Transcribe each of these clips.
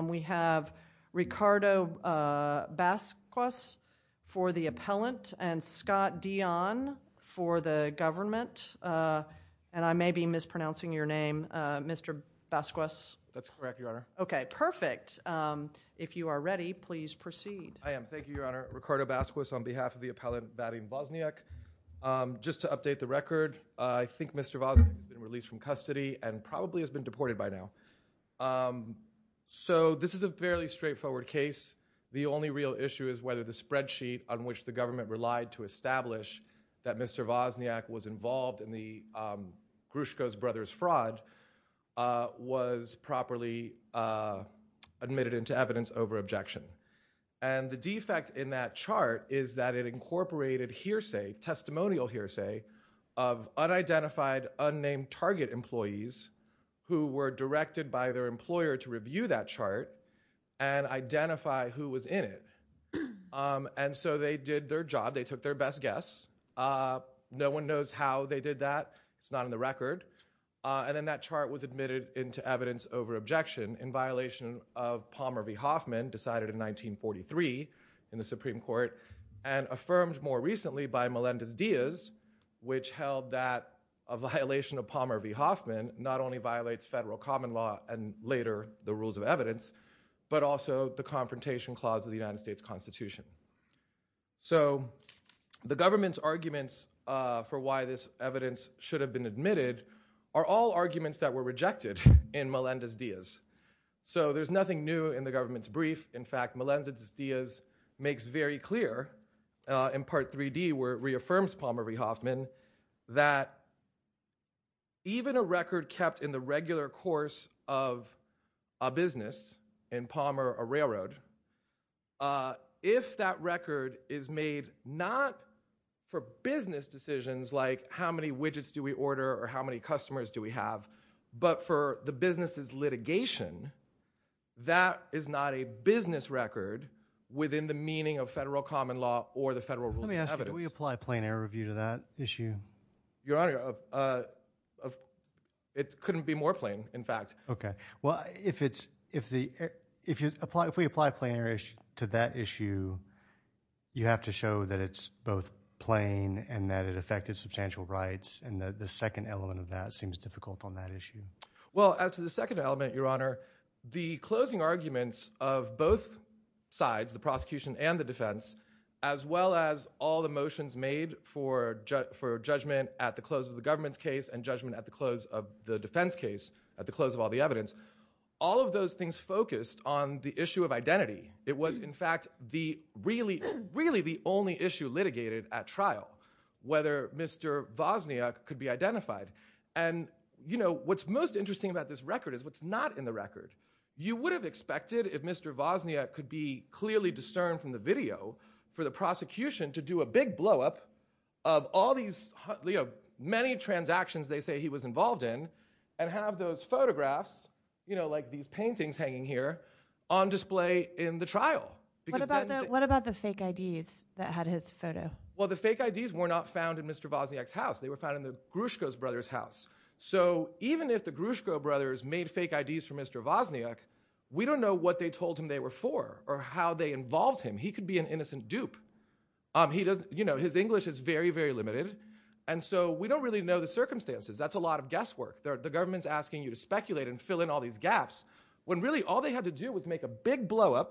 We have Ricardo Basquez for the appellant, and Scott Dionne for the government, and I may be mispronouncing your name, Mr. Basquez. That's correct, Your Honor. Okay, perfect. If you are ready, please proceed. I am. Thank you, Your Honor. Ricardo Basquez on behalf of the appellant Vadym Vozniuk. Just to update the record, I think Mr. Vozniuk has been released from custody and probably has been deported by now. So this is a fairly straightforward case. The only real issue is whether the spreadsheet on which the government relied to establish that Mr. Vozniuk was involved in the Grushko brothers' fraud was properly admitted into evidence over objection. And the defect in that chart is that it incorporated hearsay, testimonial hearsay, of unidentified, unnamed target employees who were directed by their employer to review that chart and identify who was in it. And so they did their job. They took their best guess. No one knows how they did that. It's not in the record. And then that chart was admitted into evidence over objection in violation of Palmer v. Hoffman, decided in 1943 in the Supreme Court and affirmed more recently by Melendez-Diaz, which held that a violation of Palmer v. Hoffman not only violates federal common law and later the rules of evidence, but also the Confrontation Clause of the United States Constitution. So the government's arguments for why this evidence should have been admitted are all arguments that were rejected in Melendez-Diaz. So there's nothing new in the government's brief. In fact, Palmer v. Hoffman, that even a record kept in the regular course of a business in Palmer, a railroad, if that record is made not for business decisions like how many widgets do we order or how many customers do we have, but for the business's litigation, that is not a business record within the meaning of federal common law or the federal rules of evidence. Let me ask you, do we apply plain error review to that issue? Your Honor, it couldn't be more plain, in fact. Okay. Well, if we apply plain error to that issue, you have to show that it's both plain and that it affected substantial rights. And the second element of that seems difficult on that issue. Well, as to the second element, Your Honor, the closing arguments of both sides, the prosecution and the defense, as well as all the motions made for judgment at the close of the government's case and judgment at the close of the defense case, at the close of all the evidence, all of those things focused on the issue of identity. It was, in fact, really the only issue litigated at trial, whether Mr. Wozniak could be identified. And what's most interesting about this record is what's not in the record. You would have expected if Mr. Wozniak could be clearly discerned from the video for the prosecution to do a big blowup of all these many transactions they say he was involved in and have those photographs, you know, like these paintings hanging here, on display in the trial. What about the fake IDs that had his photo? Well, the fake IDs were not found in Mr. Wozniak's house. They were found in the Gruszko brothers' house. So even if the Gruszko brothers made fake IDs for Mr. Wozniak, we don't know what they told him they were for or how they involved him. He could be an innocent dupe. You know, his English is very, very limited, and so we don't really know the circumstances. That's a lot of guesswork. The government's asking you to speculate and fill in all these gaps when really all they had to do was make a big blowup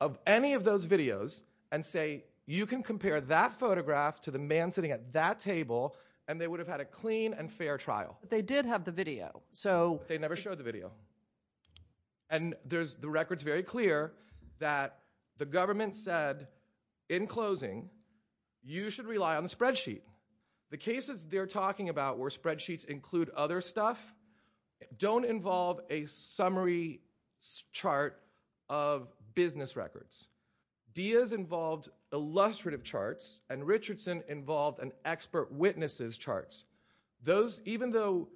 of any of those videos and say you can compare that photograph to the man sitting at that table, and they would have had a clean and fair trial. But they did have the video. They never showed the video. And the record's very clear that the government said, in closing, you should rely on the spreadsheet. The cases they're talking about where spreadsheets include other stuff don't involve a summary chart of business records. Diaz involved illustrative charts, and Richardson involved an expert witnesses' charts. Even though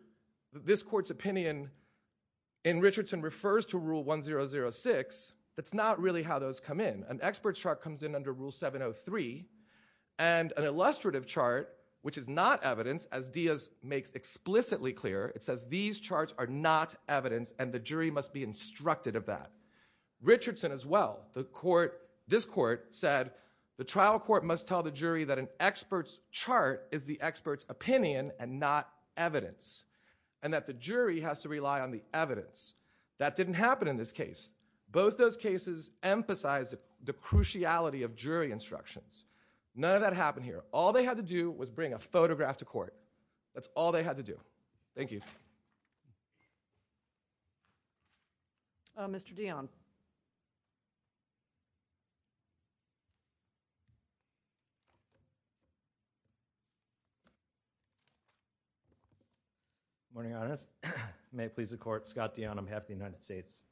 this court's opinion in Richardson refers to Rule 1006, that's not really how those come in. An expert's chart comes in under Rule 703, and an illustrative chart, which is not evidence, as Diaz makes explicitly clear, it says these charts are not evidence, and the jury must be instructed of that. Richardson as well. This court said the trial court must tell the jury that an expert's chart is the expert's opinion and not evidence, and that the jury has to rely on the evidence. That didn't happen in this case. Both those cases emphasized the cruciality of jury instructions. None of that happened here. All they had to do was bring a photograph to court. That's all they had to do. Thank you. Thank you. Mr. Dionne. Good morning, Your Honor. May it please the Court, Scott Dionne on behalf of the United States.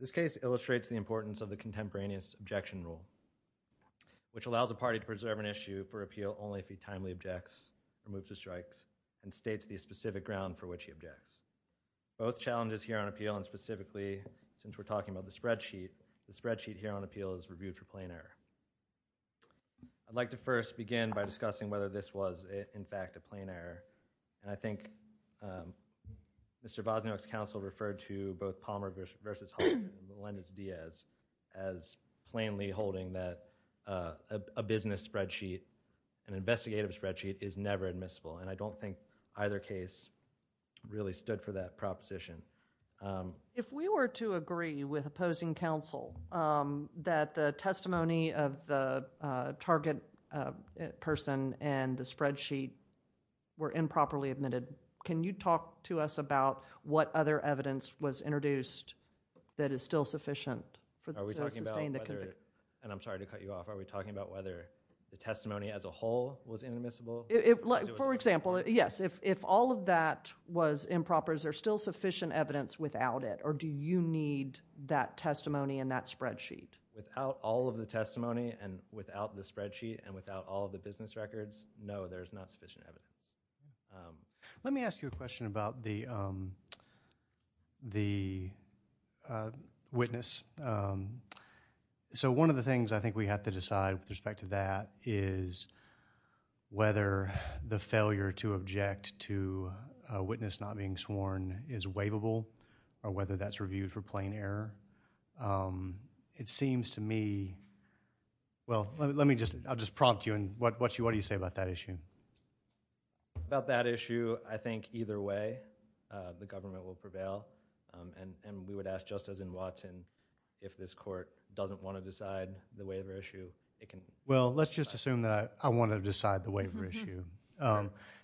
This case illustrates the importance of the contemporaneous objection rule, which allows a party to preserve an issue for appeal only if he timely objects or moves to strikes, and states the specific ground for which he objects. Both challenges here on appeal, and specifically, since we're talking about the spreadsheet, the spreadsheet here on appeal is reviewed for plain error. I'd like to first begin by discussing whether this was, in fact, a plain error. And I think Mr. Bosniak's counsel referred to both Palmer v. Hoffman and Melendez-Diaz as plainly holding that a business spreadsheet, an investigative spreadsheet, is never admissible. And I don't think either case really stood for that proposition. If we were to agree with opposing counsel that the testimony of the target person and the spreadsheet were improperly admitted, can you talk to us about what other evidence was introduced that is still sufficient to sustain the conviction? Are we talking about whether, and I'm sorry to cut you off, are we talking about whether the testimony as a whole was inadmissible? For example, yes, if all of that was improper, is there still sufficient evidence without it, or do you need that testimony and that spreadsheet? Without all of the testimony, and without the spreadsheet, and without all of the business records, no, there's not sufficient evidence. Let me ask you a question about the witness. So one of the things I think we have to decide with respect to that is whether the failure to object to a witness not being sworn is waivable or whether that's reviewed for plain error. It seems to me, well, let me just, I'll just prompt you, and what do you say about that issue? About that issue, I think either way the government will prevail, and we would ask, just as in Watson, if this court doesn't want to decide the waiver issue, it can. Well, let's just assume that I want to decide the waiver issue.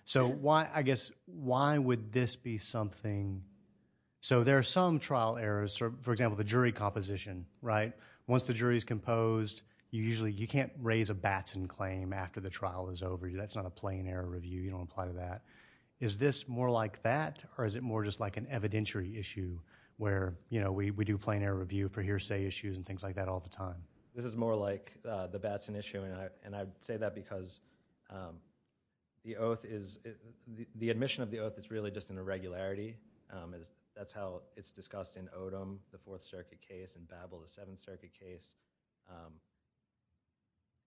So I guess why would this be something? So there are some trial errors, for example, the jury composition, right? Once the jury is composed, you usually can't raise a Batson claim after the trial is over. That's not a plain error review. You don't apply to that. Is this more like that, or is it more just like an evidentiary issue where we do plain error review for hearsay issues and things like that all the time? This is more like the Batson issue, and I say that because the admission of the oath is really just an irregularity. That's how it's discussed in Odom, the Fourth Circuit case, and Babel, the Seventh Circuit case.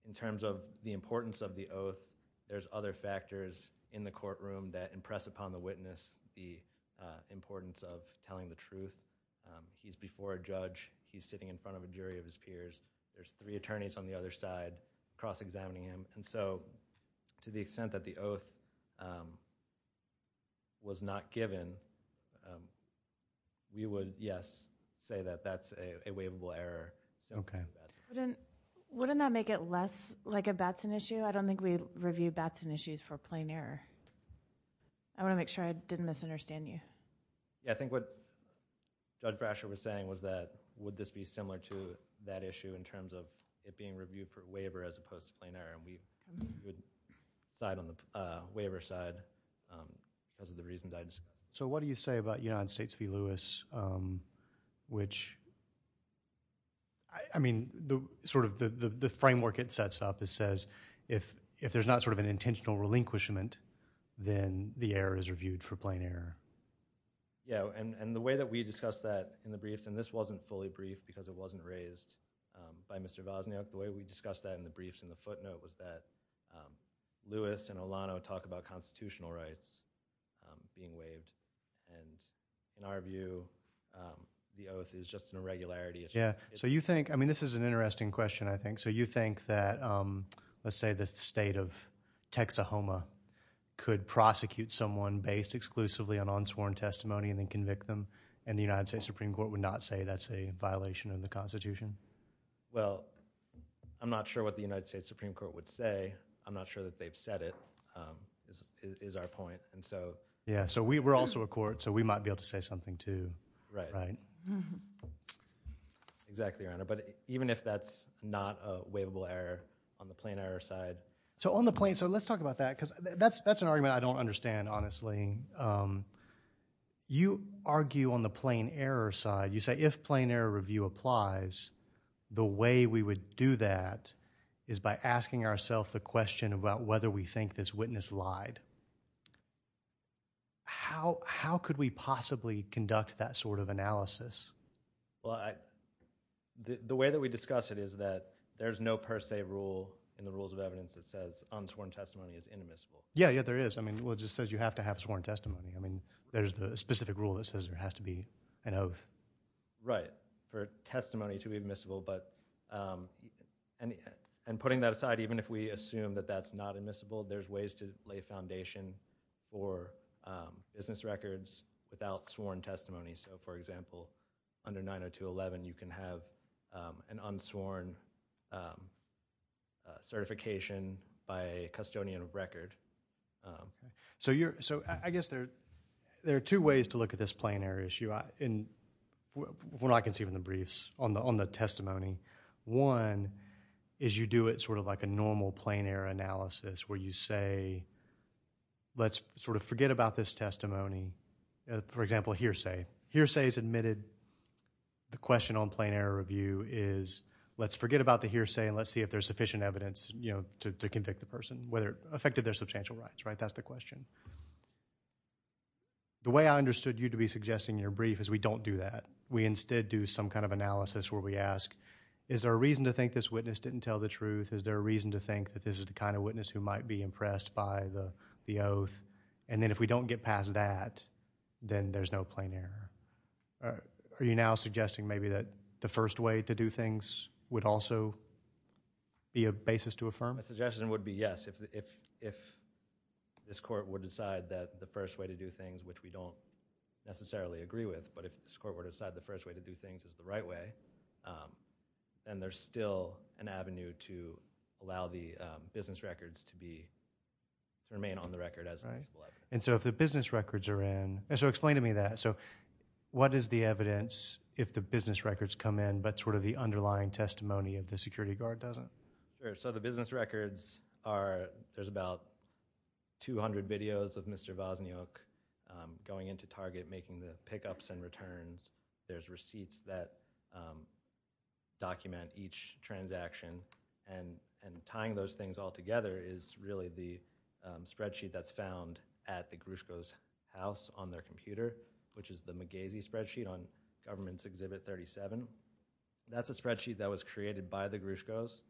In terms of the importance of the oath, there's other factors in the courtroom that impress upon the witness the importance of telling the truth. He's before a judge. He's sitting in front of a jury of his peers. There's three attorneys on the other side cross-examining him. And so to the extent that the oath was not given, we would, yes, say that that's a waivable error. Wouldn't that make it less like a Batson issue? I don't think we review Batson issues for plain error. I want to make sure I didn't misunderstand you. I think what Judge Brasher was saying was that would this be similar to that issue in terms of it being reviewed for waiver as opposed to plain error, and we would side on the waiver side because of the reasons I discussed. So what do you say about United States v. Lewis, which, I mean, the framework it sets up says if there's not sort of an intentional relinquishment, then the error is reviewed for plain error. Yeah, and the way that we discussed that in the briefs, and this wasn't fully briefed because it wasn't raised by Mr. Wozniak. The way we discussed that in the briefs and the footnote was that Lewis and Olano talk about constitutional rights being waived. And in our view, the oath is just an irregularity. Yeah, so you think, I mean, this is an interesting question, I think. So you think that, let's say, the state of Texahoma could prosecute someone based exclusively on unsworn testimony and then convict them, and the United States Supreme Court would not say that's a violation of the Constitution? Well, I'm not sure what the United States Supreme Court would say. I'm not sure that they've said it is our point. Yeah, so we're also a court, so we might be able to say something too, right? Exactly, Your Honor. But even if that's not a waivable error on the plain error side. So on the plain, so let's talk about that because that's an argument I don't understand, honestly. You argue on the plain error side. You say if plain error review applies, the way we would do that is by asking ourselves the question about whether we think this witness lied. How could we possibly conduct that sort of analysis? Well, the way that we discuss it is that there's no per se rule in the Rules of Evidence that says unsworn testimony is inadmissible. Yeah, yeah, there is. I mean, well, it just says you have to have sworn testimony. I mean, there's a specific rule that says there has to be an oath. Right, for testimony to be admissible. And putting that aside, even if we assume that that's not admissible, there's ways to lay foundation for business records without sworn testimony. So, for example, under 90211, you can have an unsworn certification by a custodian of record. So I guess there are two ways to look at this plain error issue, from what I can see from the briefs, on the testimony. One is you do it sort of like a normal plain error analysis, where you say, let's sort of forget about this testimony. For example, hearsay. Hearsay is admitted. The question on plain error review is, let's forget about the hearsay and let's see if there's sufficient evidence to convict the person, whether it affected their substantial rights, right? That's the question. The way I understood you to be suggesting in your brief is we don't do that. We instead do some kind of analysis where we ask, is there a reason to think this witness didn't tell the truth? Is there a reason to think that this is the kind of witness who might be impressed by the oath? And then if we don't get past that, then there's no plain error. Are you now suggesting maybe that the first way to do things would also be a basis to affirm? My suggestion would be yes, if this court would decide that the first way to do things, which we don't necessarily agree with, but if this court would decide the first way to do things is the right way, then there's still an avenue to allow the business records to remain on the record. And so if the business records are in, so explain to me that. So what is the evidence if the business records come in but sort of the underlying testimony of the security guard doesn't? Sure. So the business records are, there's about 200 videos of Mr. Wozniak going into Target, making the pickups and returns. There's receipts that document each transaction. And tying those things all together is really the spreadsheet that's found at the Gruszko's house on their computer, which is the McGasey spreadsheet on Government's Exhibit 37. That's a spreadsheet that was created by the Gruszkos,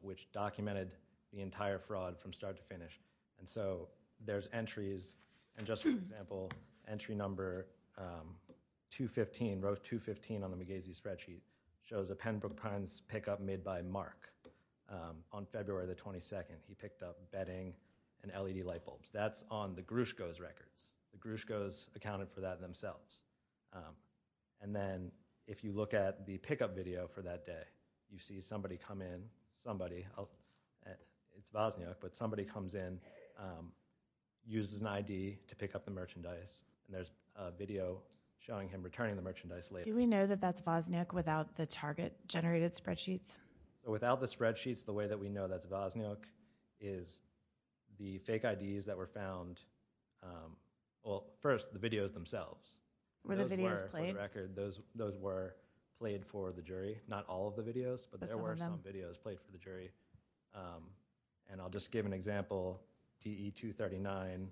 which documented the entire fraud from start to finish. And so there's entries, and just for example, entry number 215, row 215 on the McGasey spreadsheet, shows a pen book pick up made by Mark on February the 22nd. He picked up bedding and LED light bulbs. That's on the Gruszko's records. The Gruszkos accounted for that themselves. And then if you look at the pickup video for that day, you see somebody come in, somebody, it's Wozniak, but somebody comes in, uses an ID to pick up the merchandise, and there's a video showing him returning the merchandise later. Do we know that that's Wozniak without the Target-generated spreadsheets? Without the spreadsheets, the way that we know that's Wozniak is the fake IDs that were found. Well, first, the videos themselves. Were the videos played? Those were played for the jury. Not all of the videos, but there were some videos played for the jury. And I'll just give an example, DE 239,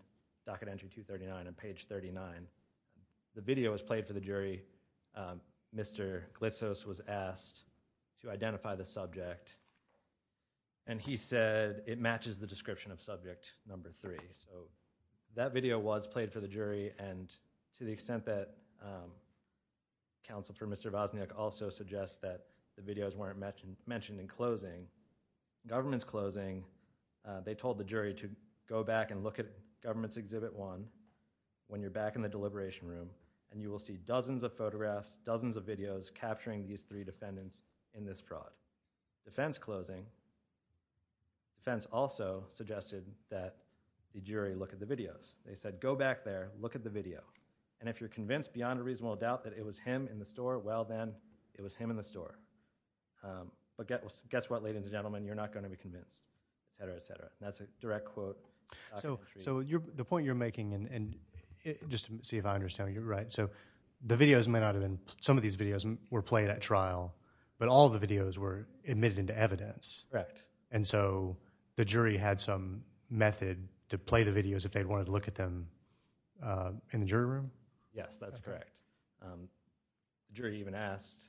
Docket Entry 239 on page 39. The video was played for the jury. Mr. Glitzos was asked to identify the subject, and he said it matches the description of subject number three. So that video was played for the jury, and to the extent that counsel for Mr. Wozniak also suggests that the videos weren't mentioned in closing, government's closing, they told the jury to go back and look at Government's Exhibit 1 when you're back in the deliberation room, and you will see dozens of photographs, dozens of videos capturing these three defendants in this fraud. Defense closing, defense also suggested that the jury look at the videos. They said, go back there, look at the video, and if you're convinced beyond a reasonable doubt that it was him in the store, well then, it was him in the store. But guess what, ladies and gentlemen? You're not going to be convinced, et cetera, et cetera. That's a direct quote. So the point you're making, and just to see if I understand, you're right. So the videos may not have been, some of these videos were played at trial, but all the videos were admitted into evidence. Correct. And so the jury had some method to play the videos if they wanted to look at them in the jury room? Yes, that's correct. The jury even asked,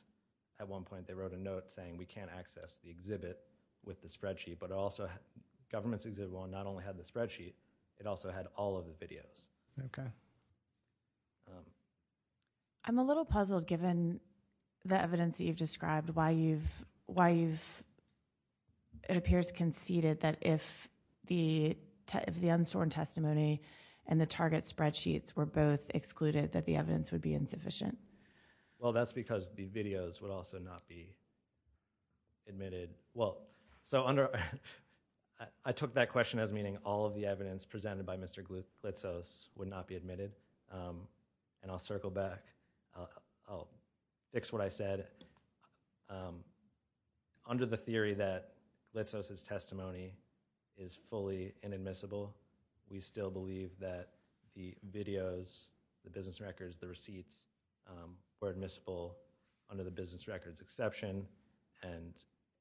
at one point they wrote a note saying, we can't access the exhibit with the spreadsheet, but also Government's Exhibit 1 not only had the spreadsheet, it also had all of the videos. Okay. I'm a little puzzled, given the evidence that you've described, why you've, it appears, conceded that if the unsworn testimony and the target spreadsheets were both excluded, that the evidence would be insufficient. Well, that's because the videos would also not be admitted. Well, so under, I took that question as meaning all of the evidence presented by Mr. Glitzos would not be admitted. And I'll circle back. I'll fix what I said. Under the theory that Glitzos' testimony is fully inadmissible, we still believe that the videos, the business records, the receipts, were admissible under the business records exception, and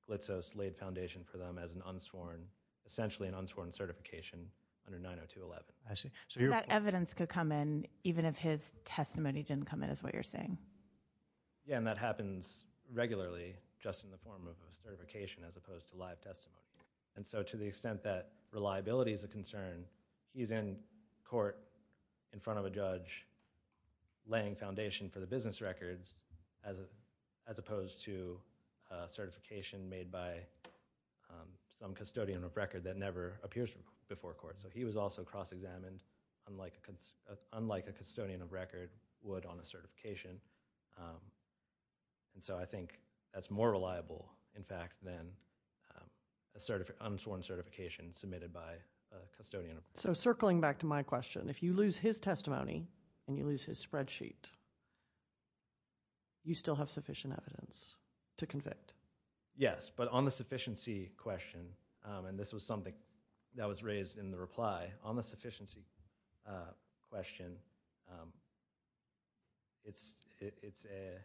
Glitzos laid foundation for them as an unsworn, essentially an unsworn certification under 90211. I see. So that evidence could come in even if his testimony didn't come in, is what you're saying. Yeah, and that happens regularly, just in the form of a certification, as opposed to live testimony. And so to the extent that reliability is a concern, he's in court in front of a judge laying foundation for the business records as opposed to certification made by some custodian of record that never appears before court. So he was also cross-examined, unlike a custodian of record would on a certification. And so I think that's more reliable, in fact, than an unsworn certification submitted by a custodian of record. So circling back to my question, if you lose his testimony and you lose his spreadsheet, you still have sufficient evidence to convict. Yes, but on the sufficiency question, and this was something that was raised in the reply, on the sufficiency question, it's a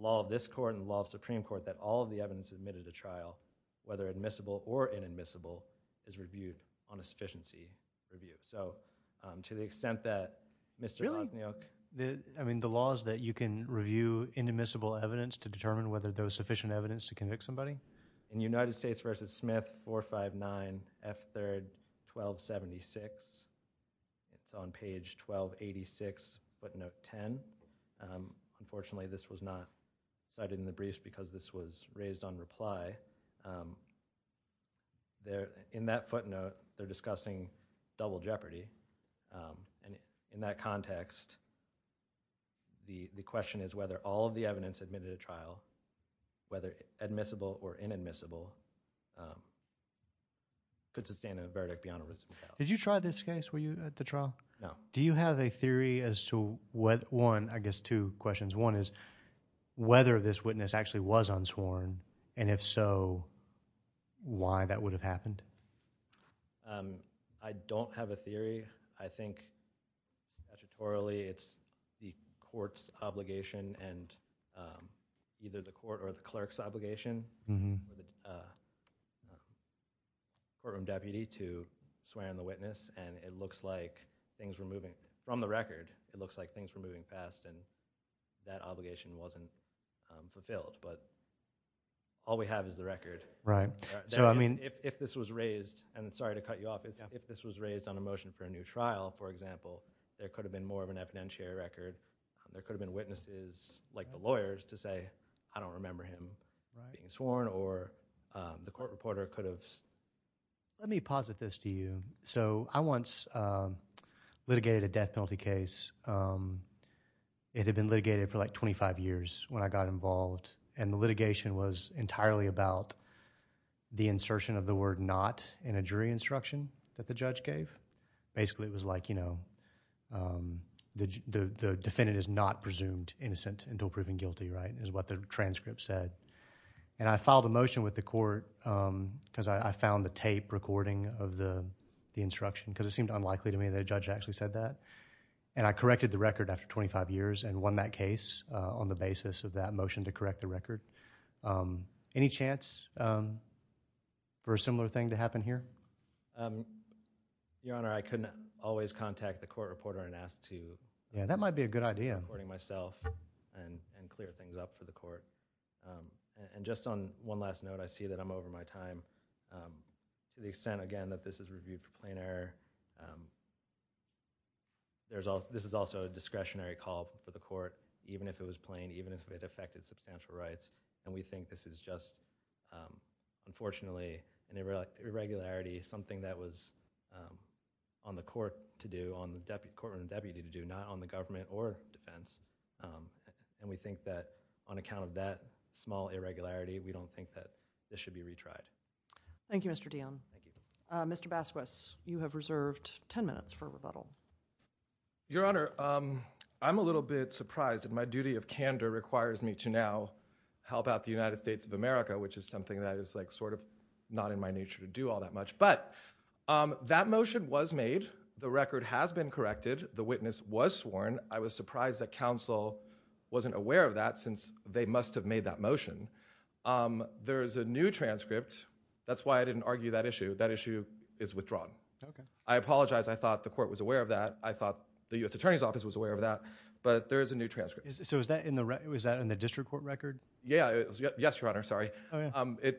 law of this court and the law of the Supreme Court that all of the evidence admitted to trial, whether admissible or inadmissible, is reviewed on a sufficiency review. So to the extent that Mr. Kozniak... Really? I mean, the law is that you can review inadmissible evidence to determine whether there was sufficient evidence to convict somebody? In United States v. Smith 459 F3rd 1276, it's on page 1286, footnote 10. Unfortunately, this was not cited in the briefs because this was raised on reply. In that footnote, they're discussing double jeopardy. And in that context, the question is whether all of the evidence admitted to trial, whether admissible or inadmissible, could sustain a verdict beyond a reasonable doubt. Did you try this case? Were you at the trial? No. Do you have a theory as to whether... One, I guess two questions. One is whether this witness actually was unsworn, and if so, why that would have happened? I don't have a theory. I think statutorily it's the court's obligation and either the court or the clerk's obligation, or the courtroom deputy to swear on the witness. And it looks like things were moving... From the record, it looks like things were moving fast and that obligation wasn't fulfilled. But all we have is the record. Right. So, I mean... If this was raised, and sorry to cut you off, if this was raised on a motion for a new trial, for example, there could have been more of an evidentiary record. There could have been witnesses like the lawyers to say, I don't remember him being sworn, or the court reporter could have... Let me posit this to you. So, I once litigated a death penalty case. It had been litigated for like 25 years when I got involved, and the litigation was entirely about the insertion of the word not in a jury instruction that the judge gave. Basically, it was like, you know, the defendant is not presumed innocent until proven guilty, right, is what the transcript said. And I filed a motion with the court because I found the tape recording of the instruction because it seemed unlikely to me that a judge actually said that. And I corrected the record after 25 years and won that case on the basis of that motion to correct the record. Any chance for a similar thing to happen here? Your Honor, I couldn't always contact the court reporter and ask to... Yeah, that might be a good idea. ...recording myself and clear things up for the court. And just on one last note, I see that I'm over my time. To the extent, again, that this is reviewed for plain error, this is also a discretionary call for the court, even if it was plain, even if it affected substantial rights. And we think this is just, unfortunately, an irregularity, something that was on the court to do, on the court and the deputy to do, not on the government or defense. And we think that on account of that small irregularity, we don't think that this should be retried. Thank you, Mr. Dionne. Mr. Basquez, you have reserved 10 minutes for rebuttal. Your Honor, I'm a little bit surprised the United States of America, which is something that is sort of not in my nature to do all that much. But that motion was made, the record has been corrected, the witness was sworn. I was surprised that counsel wasn't aware of that since they must have made that motion. There is a new transcript. That's why I didn't argue that issue. That issue is withdrawn. I apologize. I thought the court was aware of that. I thought the U.S. Attorney's Office was aware of that. But there is a new transcript. So was that in the district court record? Yes, Your Honor.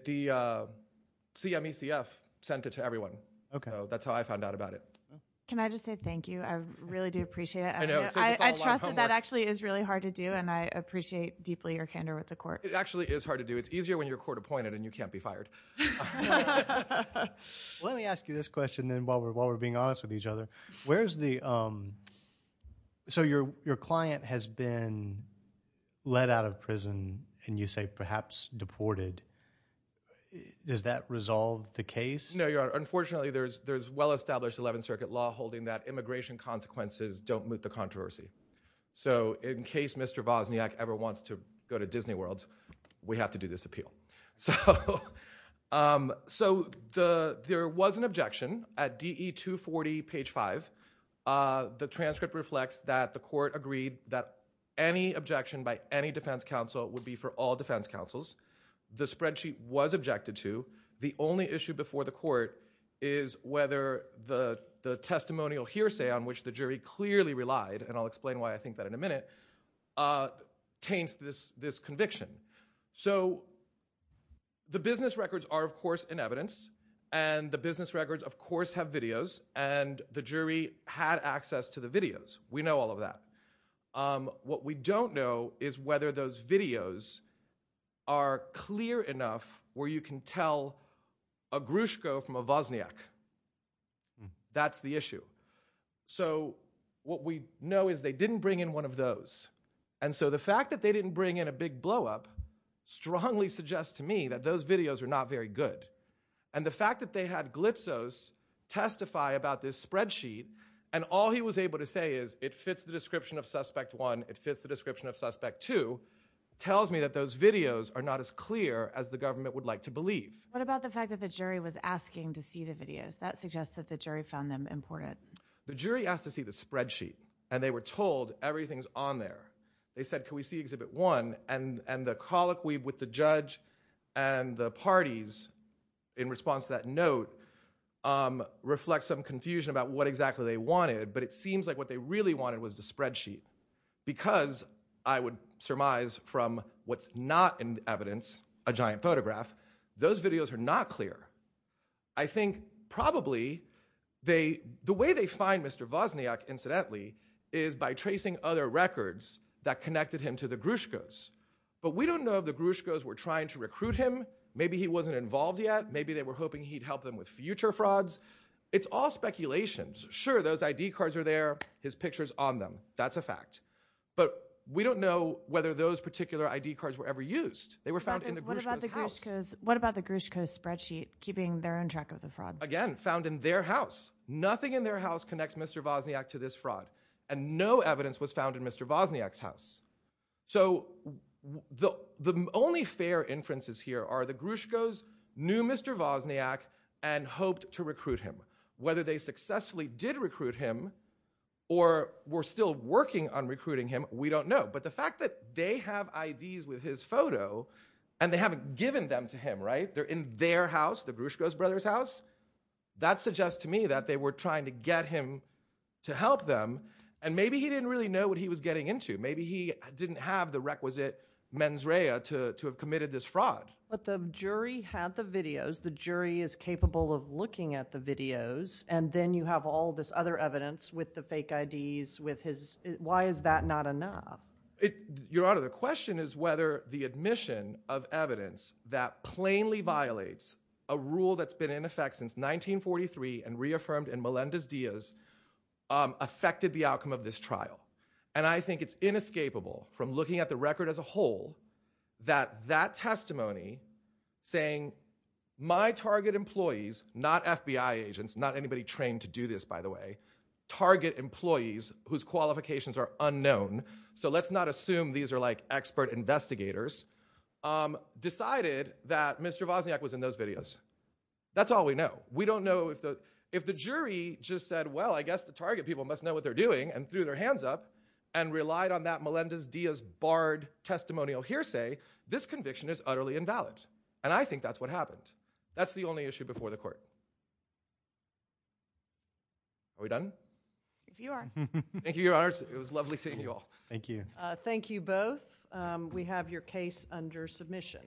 The CMECF sent it to everyone. That's how I found out about it. Can I just say thank you? I really do appreciate it. I trust that that actually is really hard to do, and I appreciate deeply your candor with the court. It actually is hard to do. It's easier when you're court appointed and you can't be fired. Let me ask you this question while we're being honest with each other. So your client has been let out of prison, and you say perhaps deported. Does that resolve the case? No, Your Honor. Unfortunately, there's well-established 11th Circuit law holding that immigration consequences don't moot the controversy. So in case Mr. Wozniak ever wants to go to Disney World, we have to do this appeal. So there was an objection at DE 240, page 5. The transcript reflects that the court agreed that any objection by any defense counsel would be for all defense counsels. The spreadsheet was objected to. The only issue before the court is whether the testimonial hearsay on which the jury clearly relied, and I'll explain why I think that in a minute, taints this conviction. So the business records are, of course, in evidence, and the business records, of course, have videos, and the jury had access to the videos. We know all of that. What we don't know is whether those videos are clear enough where you can tell a Gruszko from a Wozniak. That's the issue. So what we know is they didn't bring in one of those. And so the fact that they didn't bring in a big blow-up strongly suggests to me that those videos are not very good. And the fact that they had Glitzos testify about this spreadsheet, and all he was able to say is, it fits the description of Suspect 1, it fits the description of Suspect 2, tells me that those videos are not as clear as the government would like to believe. What about the fact that the jury was asking to see the videos? That suggests that the jury found them important. The jury asked to see the spreadsheet, and they were told, everything's on there. They said, can we see Exhibit 1? And the colloquy with the judge and the parties in response to that note reflects some confusion about what exactly they wanted, but it seems like what they really wanted was the spreadsheet. Because, I would surmise, from what's not in the evidence, a giant photograph, those videos are not clear. I think, probably, the way they find Mr. Wozniak, incidentally, is by tracing other records that connected him to the Grushkos. But we don't know if the Grushkos were trying to recruit him. Maybe he wasn't involved yet. Maybe they were hoping he'd help them with future frauds. It's all speculation. Sure, those ID cards are there, his picture's on them. That's a fact. But we don't know whether those particular ID cards were ever used. What about the Grushkos' spreadsheet, keeping their own track of the fraud? Again, found in their house. Nothing in their house connects Mr. Wozniak to this fraud. And no evidence was found in Mr. Wozniak's house. So, the only fair inferences here are the Grushkos knew Mr. Wozniak and hoped to recruit him. Whether they successfully did recruit him or were still working on recruiting him, we don't know. But the fact that they have IDs with his photo and they haven't given them to him, right? They're in their house, the Grushkos brothers' house. That suggests to me that they were trying to get him to help them. And maybe he didn't really know what he was getting into. Maybe he didn't have the requisite mens rea to have committed this fraud. But the jury had the videos. The jury is capable of looking at the videos. And then you have all this other evidence with the fake IDs, with his... Why is that not enough? Your Honor, the question is whether the admission of evidence that plainly violates a rule that's been in effect since 1943 and reaffirmed in Melendez-Diaz affected the outcome of this trial. And I think it's inescapable from looking at the record as a whole that that testimony saying, my target employees, not FBI agents, not anybody trained to do this, by the way, target employees whose qualifications are unknown, so let's not assume these are like expert investigators, decided that Mr. Wozniak was in those videos. That's all we know. We don't know if the jury just said, well, I guess the target people must know what they're doing and threw their hands up and relied on that Melendez-Diaz barred testimonial hearsay. This conviction is utterly invalid. And I think that's what happened. That's the only issue before the court. Are we done? If you are. Thank you, Your Honors. It was lovely seeing you all. Thank you. Thank you both. We have your case under submission.